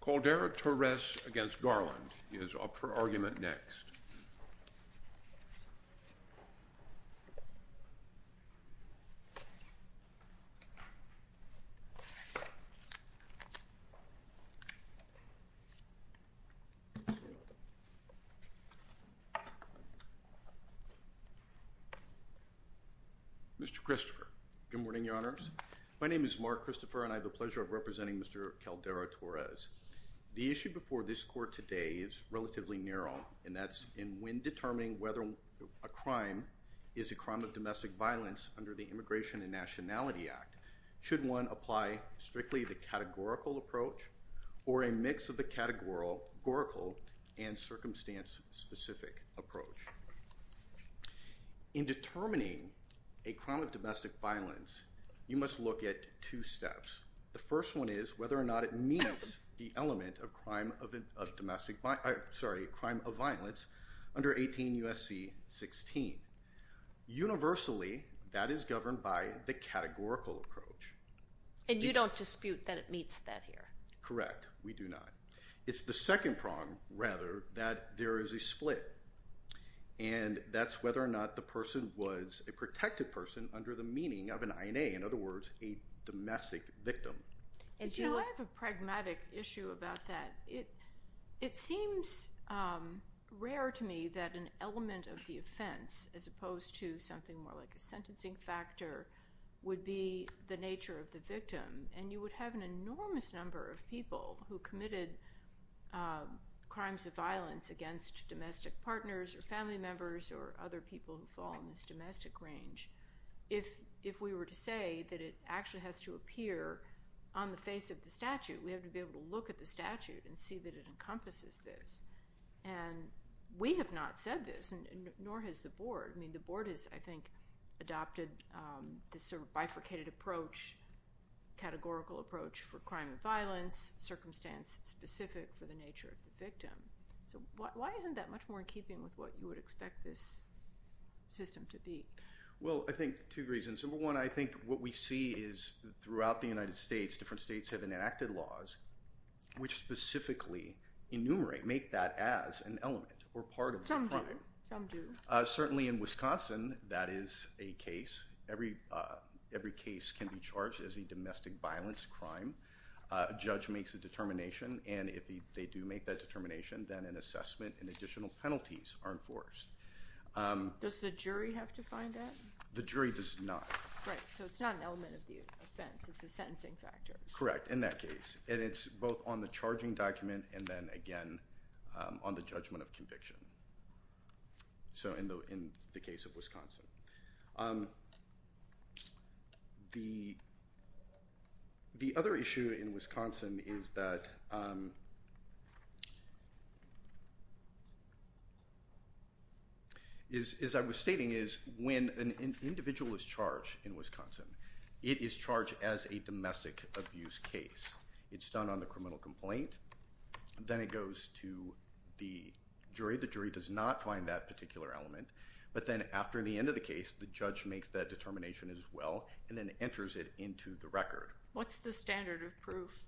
Caldera-Torres v. Garland is up for argument next. Mr. Christopher. Good morning, Your Honors. My name is Mark Christopher, and I have the pleasure of representing Mr. Caldera-Torres. The issue before this court today is relatively narrow, and that's in when determining whether a crime is a crime of domestic violence under the Immigration and Nationality Act. Should one apply strictly the categorical approach or a mix of the categorical and circumstance-specific approach? In determining a crime of domestic violence, you must look at two steps. The first one is whether or not it meets the element of crime of domestic – sorry, crime of violence under 18 U.S.C. 16. Universally, that is governed by the categorical approach. And you don't dispute that it meets that here? Correct. We do not. It's the second prong, rather, that there is a split. And that's whether or not the person was a protected person under the meaning of an INA. In other words, a domestic victim. You know, I have a pragmatic issue about that. It seems rare to me that an element of the offense, as opposed to something more like a sentencing factor, would be the nature of the victim. And you would have an enormous number of people who committed crimes of violence against domestic partners or family members or other people who fall in this domestic range. If we were to say that it actually has to appear on the face of the statute, we have to be able to look at the statute and see that it encompasses this. And we have not said this, nor has the Board. I mean, the Board has, I think, adopted this sort of bifurcated approach, categorical approach for crime and violence, circumstance-specific for the nature of the victim. So why isn't that much more in keeping with what you would expect this system to be? Well, I think two reasons. Number one, I think what we see is throughout the United States, different states have enacted laws which specifically enumerate, make that as an element or part of the crime. Some do. Certainly in Wisconsin, that is a case. Every case can be charged as a domestic violence crime. A judge makes a determination, and if they do make that determination, then an assessment and additional penalties are enforced. Does the jury have to find that? The jury does not. Right, so it's not an element of the offense. It's a sentencing factor. Correct, in that case. And it's both on the charging document and then, again, on the judgment of conviction. So in the case of Wisconsin. The other issue in Wisconsin is that, as I was stating, is when an individual is charged in Wisconsin, it is charged as a domestic abuse case. It's done on the criminal complaint. Then it goes to the jury. The jury does not find that particular element. But then after the end of the case, the judge makes that determination as well and then enters it into the record. What's the standard of proof?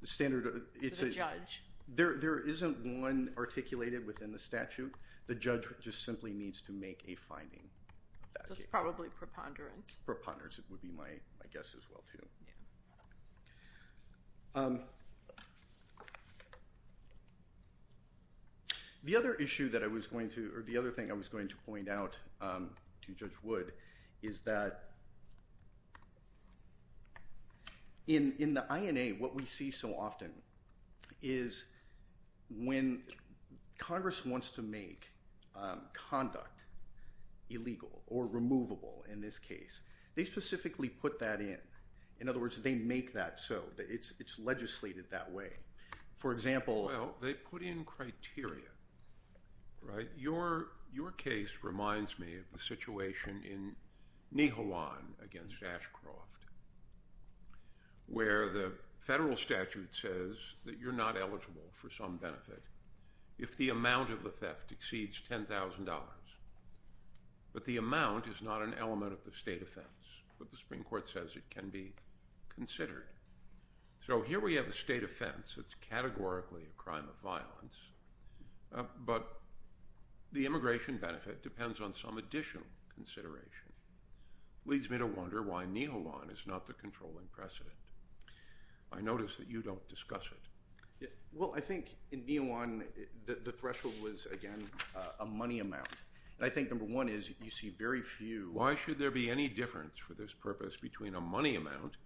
The standard of proof. To the judge. There isn't one articulated within the statute. The judge just simply needs to make a finding. So it's probably preponderance. Preponderance would be my guess as well, too. Yeah. The other thing I was going to point out to Judge Wood is that in the INA, what we see so often is when Congress wants to make conduct illegal or removable in this case, they specifically put that in. In other words, they make that so. It's legislated that way. For example. Well, they put in criteria, right? Your case reminds me of the situation in Nijhawan against Ashcroft where the federal statute says that you're not eligible for some benefit if the amount of the theft exceeds $10,000. But the amount is not an element of the state offense. But the Supreme Court says it can be considered. So here we have a state offense that's categorically a crime of violence. But the immigration benefit depends on some additional consideration. It leads me to wonder why Nijhawan is not the controlling precedent. I notice that you don't discuss it. Well, I think in Nijhawan the threshold was, again, a money amount. And I think number one is you see very few. Why should there be any difference for this purpose between a money amount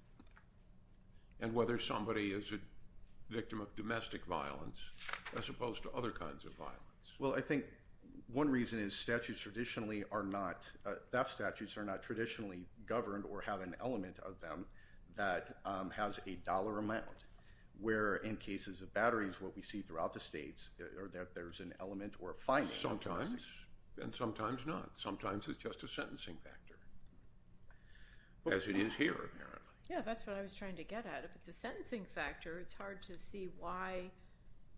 and whether somebody is a victim of domestic violence as opposed to other kinds of violence? Well, I think one reason is statutes traditionally are not, theft statutes are not traditionally governed or have an element of them that has a dollar amount. Where in cases of batteries, what we see throughout the states, there's an element or finding. Sometimes. And sometimes not. Sometimes it's just a sentencing factor, as it is here apparently. Yeah, that's what I was trying to get at. If it's a sentencing factor, it's hard to see why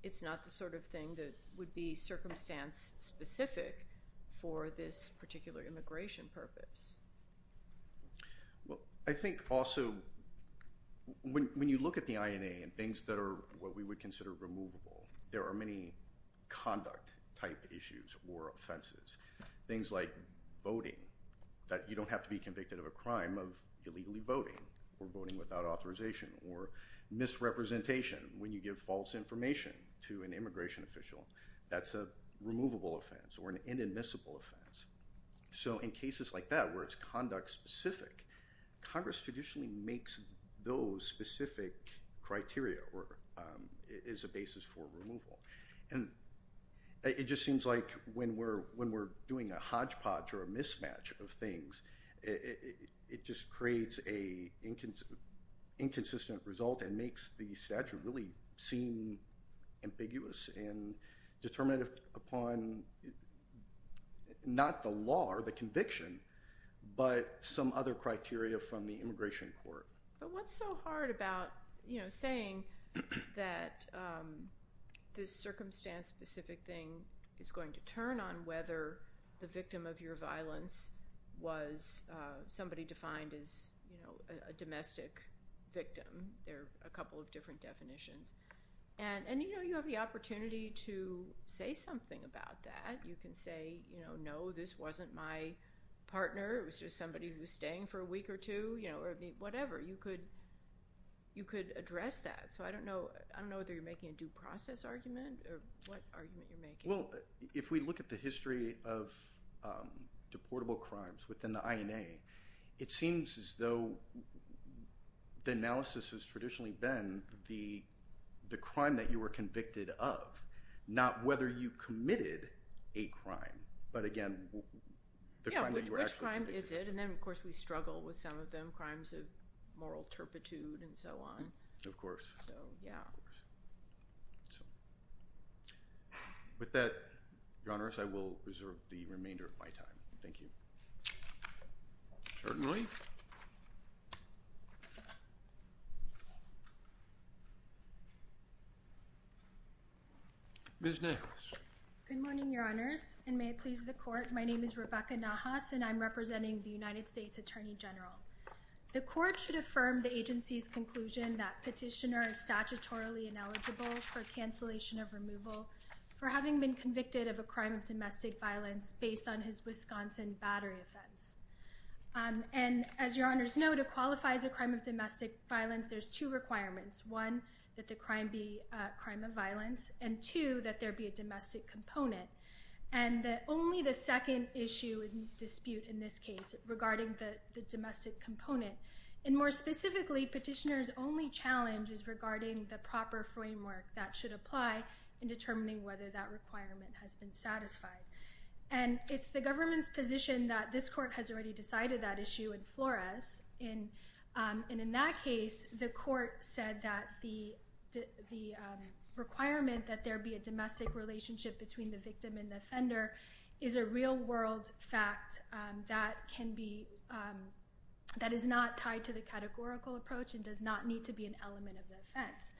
it's not the sort of thing that would be circumstance specific for this particular immigration purpose. Well, I think also when you look at the INA and things that are what we would consider removable, there are many conduct-type issues or offenses. Things like voting, that you don't have to be convicted of a crime of illegally voting or voting without authorization or misrepresentation when you give false information to an immigration official. That's a removable offense or an inadmissible offense. So in cases like that where it's conduct-specific, Congress traditionally makes those specific criteria or is a basis for removal. It just seems like when we're doing a hodgepodge or a mismatch of things, it just creates an inconsistent result and makes the statute really seem ambiguous and determinative upon not the law or the conviction, but some other criteria from the immigration court. But what's so hard about saying that this circumstance-specific thing is going to turn on whether the victim of your violence was somebody defined as a domestic victim? There are a couple of different definitions. And you have the opportunity to say something about that. You can say, no, this wasn't my partner. It was just somebody who was staying for a week or two. You could address that. So I don't know whether you're making a due process argument or what argument you're making. Well, if we look at the history of deportable crimes within the INA, it seems as though the analysis has traditionally been the crime that you were convicted of, not whether you committed a crime. But again, the crime that you were actually convicted of. Yeah, which crime is it? And then, of course, we struggle with some of them, crimes of moral turpitude and so on. Of course. So, yeah. Of course. With that, Your Honor, I will reserve the remainder of my time. Thank you. Certainly. Ms. Nahas. Good morning, Your Honors, and may it please the court. My name is Rebecca Nahas, and I'm representing the United States Attorney General. The court should affirm the agency's conclusion that petitioner is statutorily ineligible for cancellation of removal for having been convicted of a crime of domestic violence based on his Wisconsin battery offense. And as Your Honor's note, it qualifies a crime of domestic violence. There's two requirements. One, that the crime be a crime of violence. And two, that there be a domestic component. And only the second issue is in dispute in this case regarding the domestic component. And more specifically, petitioner's only challenge is regarding the proper framework that should apply in determining whether that requirement has been satisfied. And it's the government's position that this court has already decided that issue in Flores. And in that case, the court said that the requirement that there be a domestic relationship between the victim and the offender is a real world fact that is not tied to the categorical approach and does not need to be an element of the offense.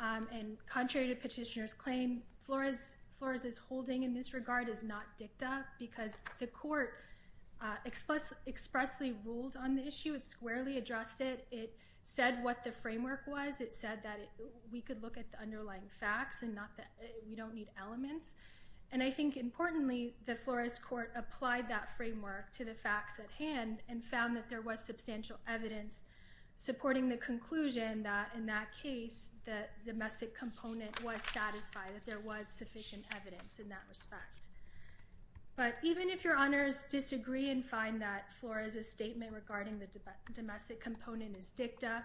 And contrary to petitioner's claim, Flores' holding in this regard is not dicta because the court expressly ruled on the issue. It squarely addressed it. It said what the framework was. It said that we could look at the underlying facts and we don't need elements. And I think importantly, the Flores court applied that framework to the facts at hand and found that there was substantial evidence supporting the conclusion that in that case, the domestic component was satisfied, that there was sufficient evidence in that respect. But even if your honors disagree and find that Flores' statement regarding the domestic component is dicta,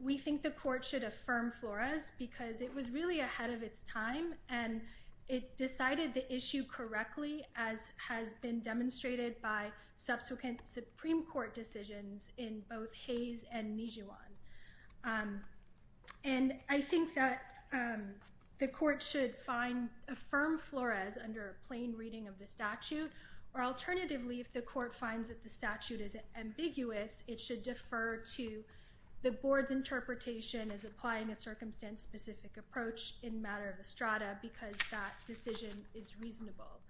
we think the court should affirm Flores because it was really ahead of its time and it decided the issue correctly as has been demonstrated by subsequent Supreme Court decisions in both Hayes and Nijuan. And I think that the court should affirm Flores under a plain reading of the statute or alternatively, if the court finds that the statute is ambiguous, it should defer to the board's interpretation as applying a circumstance-specific approach in matter of estrada because that decision is reasonable.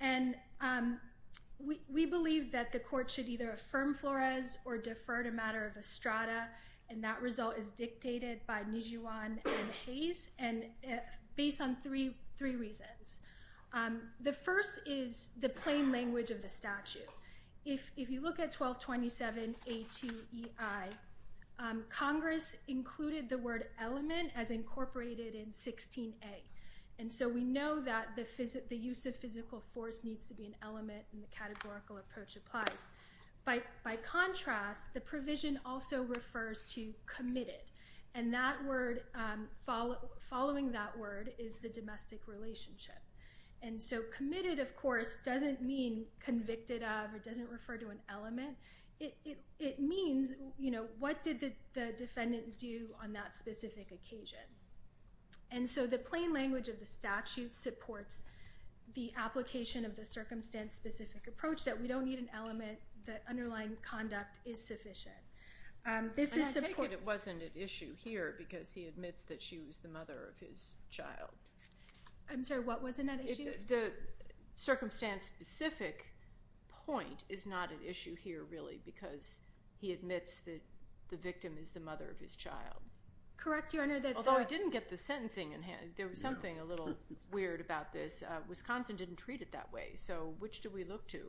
And we believe that the court should either affirm Flores or defer to matter of estrada and that result is dictated by Nijuan and Hayes based on three reasons. The first is the plain language of the statute. If you look at 1227A2EI, Congress included the word element as incorporated in 16A. And so we know that the use of physical force needs to be an element and the categorical approach applies. By contrast, the provision also refers to committed. And that word, following that word is the domestic relationship. And so committed, of course, doesn't mean convicted of or doesn't refer to an element. It means, you know, what did the defendant do on that specific occasion? And so the plain language of the statute supports the application of the circumstance-specific approach that we don't need an element, the underlying conduct is sufficient. I take it it wasn't an issue here because he admits that she was the mother of his child. I'm sorry, what wasn't an issue? The circumstance-specific point is not an issue here really because he admits that the victim is the mother of his child. Correct, Your Honor. Although he didn't get the sentencing in hand. There was something a little weird about this. Wisconsin didn't treat it that way. So which do we look to,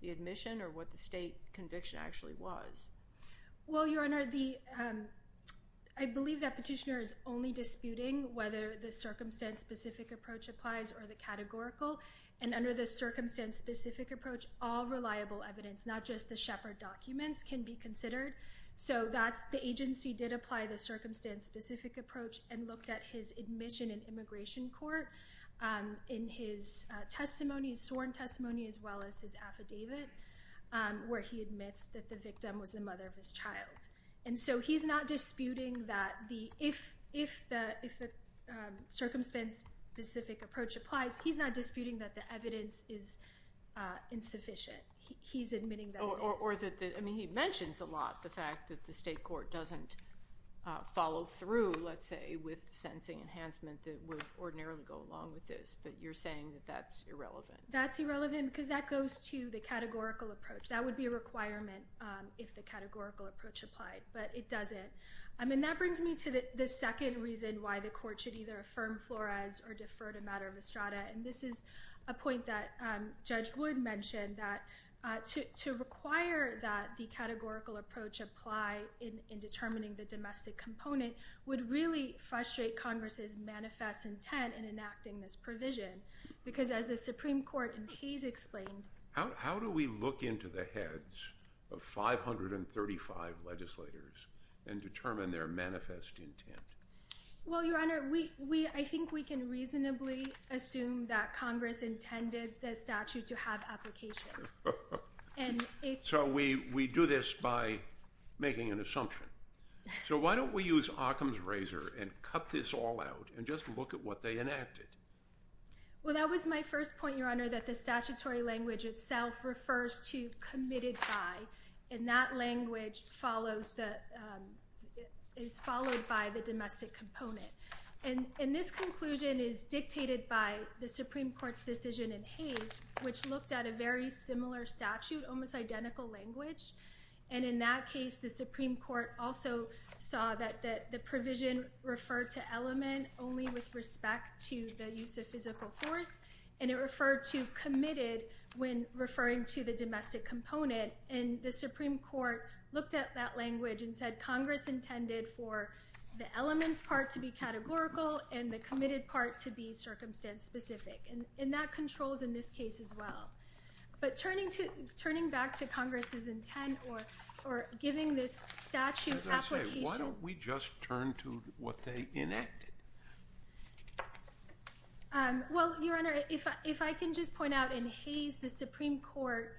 the admission or what the state conviction actually was? Well, Your Honor, I believe that Petitioner is only disputing whether the circumstance-specific approach applies or the categorical. And under the circumstance-specific approach, all reliable evidence, not just the Shepard documents, can be considered. So the agency did apply the circumstance-specific approach and looked at his admission in immigration court in his testimony, sworn testimony, as well as his affidavit, where he admits that the victim was the mother of his child. And so he's not disputing that if the circumstance-specific approach applies, he's not disputing that the evidence is insufficient. He's admitting that it is. Or that, I mean, he mentions a lot the fact that the state court doesn't follow through, let's say, with sentencing enhancement that would ordinarily go along with this. But you're saying that that's irrelevant. That's irrelevant because that goes to the categorical approach. That would be a requirement if the categorical approach applied. But it doesn't. I mean, that brings me to the second reason why the court should either affirm Flores or defer to matter of Estrada. And this is a point that Judge Wood mentioned, that to require that the categorical approach apply in determining the domestic component would really frustrate Congress' manifest intent in enacting this provision. Because as the Supreme Court in Hayes explained- How do we look into the heads of 535 legislators and determine their manifest intent? Well, Your Honor, I think we can reasonably assume that Congress intended the statute to have applications. So we do this by making an assumption. So why don't we use Occam's razor and cut this all out and just look at what they enacted? Well, that was my first point, Your Honor, that the statutory language itself refers to committed by. And that language is followed by the domestic component. And this conclusion is dictated by the Supreme Court's decision in Hayes, which looked at a very similar statute, almost identical language. And in that case, the Supreme Court also saw that the provision referred to element only with respect to the use of physical force. And it referred to committed when referring to the domestic component. And the Supreme Court looked at that language and said Congress intended for the elements part to be categorical and the committed part to be circumstance specific. And that controls in this case as well. But turning back to Congress's intent or giving this statute application. Why don't we just turn to what they enacted? Well, Your Honor, if I can just point out in Hayes, the Supreme Court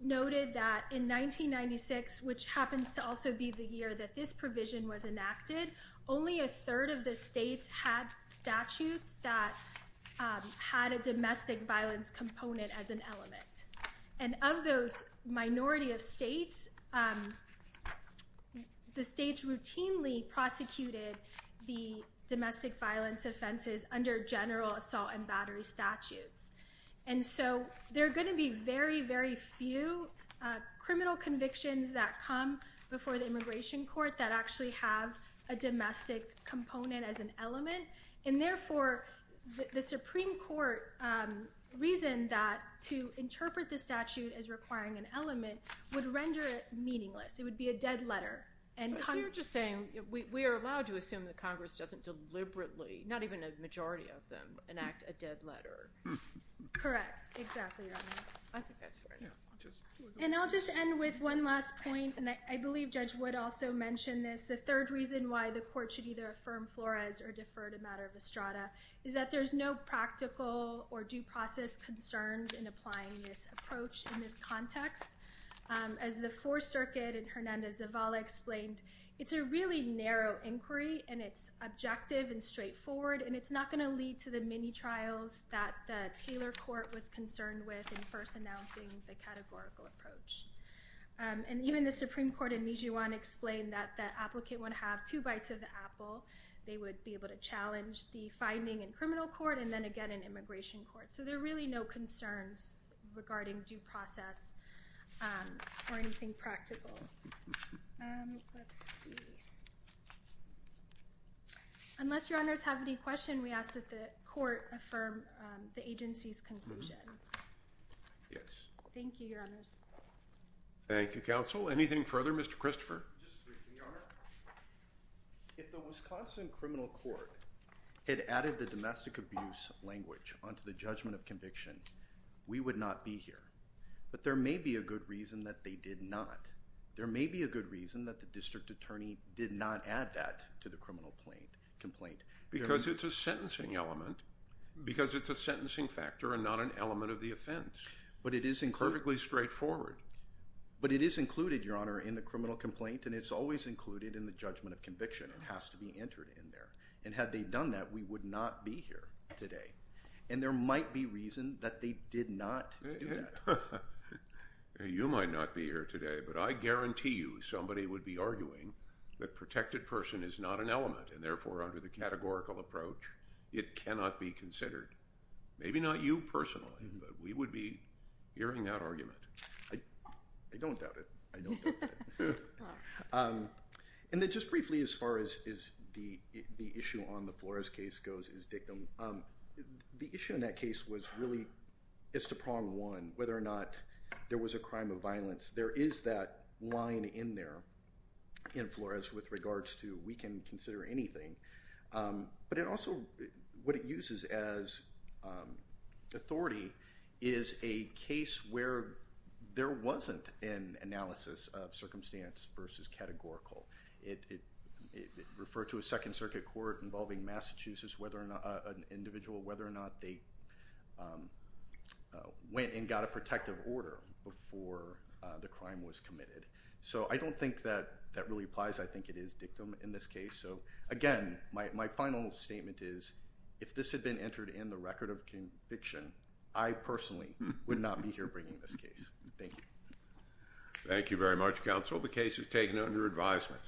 noted that in 1996, which happens to also be the year that this provision was enacted, only a third of the states had statutes that had a domestic violence component as an element. And of those minority of states, the states routinely prosecuted the domestic violence offenses under general assault and battery statutes. And so there are going to be very, very few criminal convictions that come before the immigration court that actually have a domestic component as an element. And therefore, the Supreme Court reasoned that to interpret the statute as requiring an element would render it meaningless. It would be a dead letter. So you're just saying we are allowed to assume that Congress doesn't deliberately, not even a majority of them, enact a dead letter. Correct. Exactly, Your Honor. I think that's fair enough. And I'll just end with one last point. And I believe Judge Wood also mentioned this. The third reason why the court should either affirm Flores or defer to matter of Estrada is that there's no practical or due process concerns in applying this approach in this context. As the Fourth Circuit and Hernandez-Zavala explained, it's a really narrow inquiry. And it's objective and straightforward. And it's not going to lead to the mini-trials that the Taylor Court was concerned with in first announcing the categorical approach. And even the Supreme Court in Nijuan explained that the applicant would have two bites of the apple. They would be able to challenge the finding in criminal court and then again in immigration court. So there are really no concerns regarding due process or anything practical. Let's see. Unless Your Honors have any questions, we ask that the court affirm the agency's conclusion. Yes. Thank you, Your Honors. Thank you, counsel. Anything further? Mr. Christopher. Your Honor, if the Wisconsin Criminal Court had added the domestic abuse language onto the judgment of conviction, we would not be here. But there may be a good reason that they did not. There may be a good reason that the district attorney did not add that to the criminal complaint. Because it's a sentencing element. Because it's a sentencing factor and not an element of the offense. But it is included. Perfectly straightforward. But it is included, Your Honor, in the criminal complaint. And it's always included in the judgment of conviction. It has to be entered in there. And had they done that, we would not be here today. And there might be reason that they did not do that. You might not be here today, but I guarantee you somebody would be arguing that protected person is not an element. And therefore, under the categorical approach, it cannot be considered. Maybe not you personally, but we would be hearing that argument. I don't doubt it. I don't doubt it. And then just briefly as far as the issue on the Flores case goes is dictum. The issue in that case was really just a problem one, whether or not there was a crime of violence. There is that line in there in Flores with regards to we can consider anything. But it also, what it uses as authority is a case where there wasn't an analysis of circumstance versus categorical. It referred to a Second Circuit court involving Massachusetts, whether or not an individual, whether or not they went and got a protective order before the crime was committed. So I don't think that that really applies. I think it is dictum in this case. So again, my final statement is if this had been entered in the record of conviction, I personally would not be here bringing this case. Thank you. Thank you very much, counsel. The case is taken under advisement.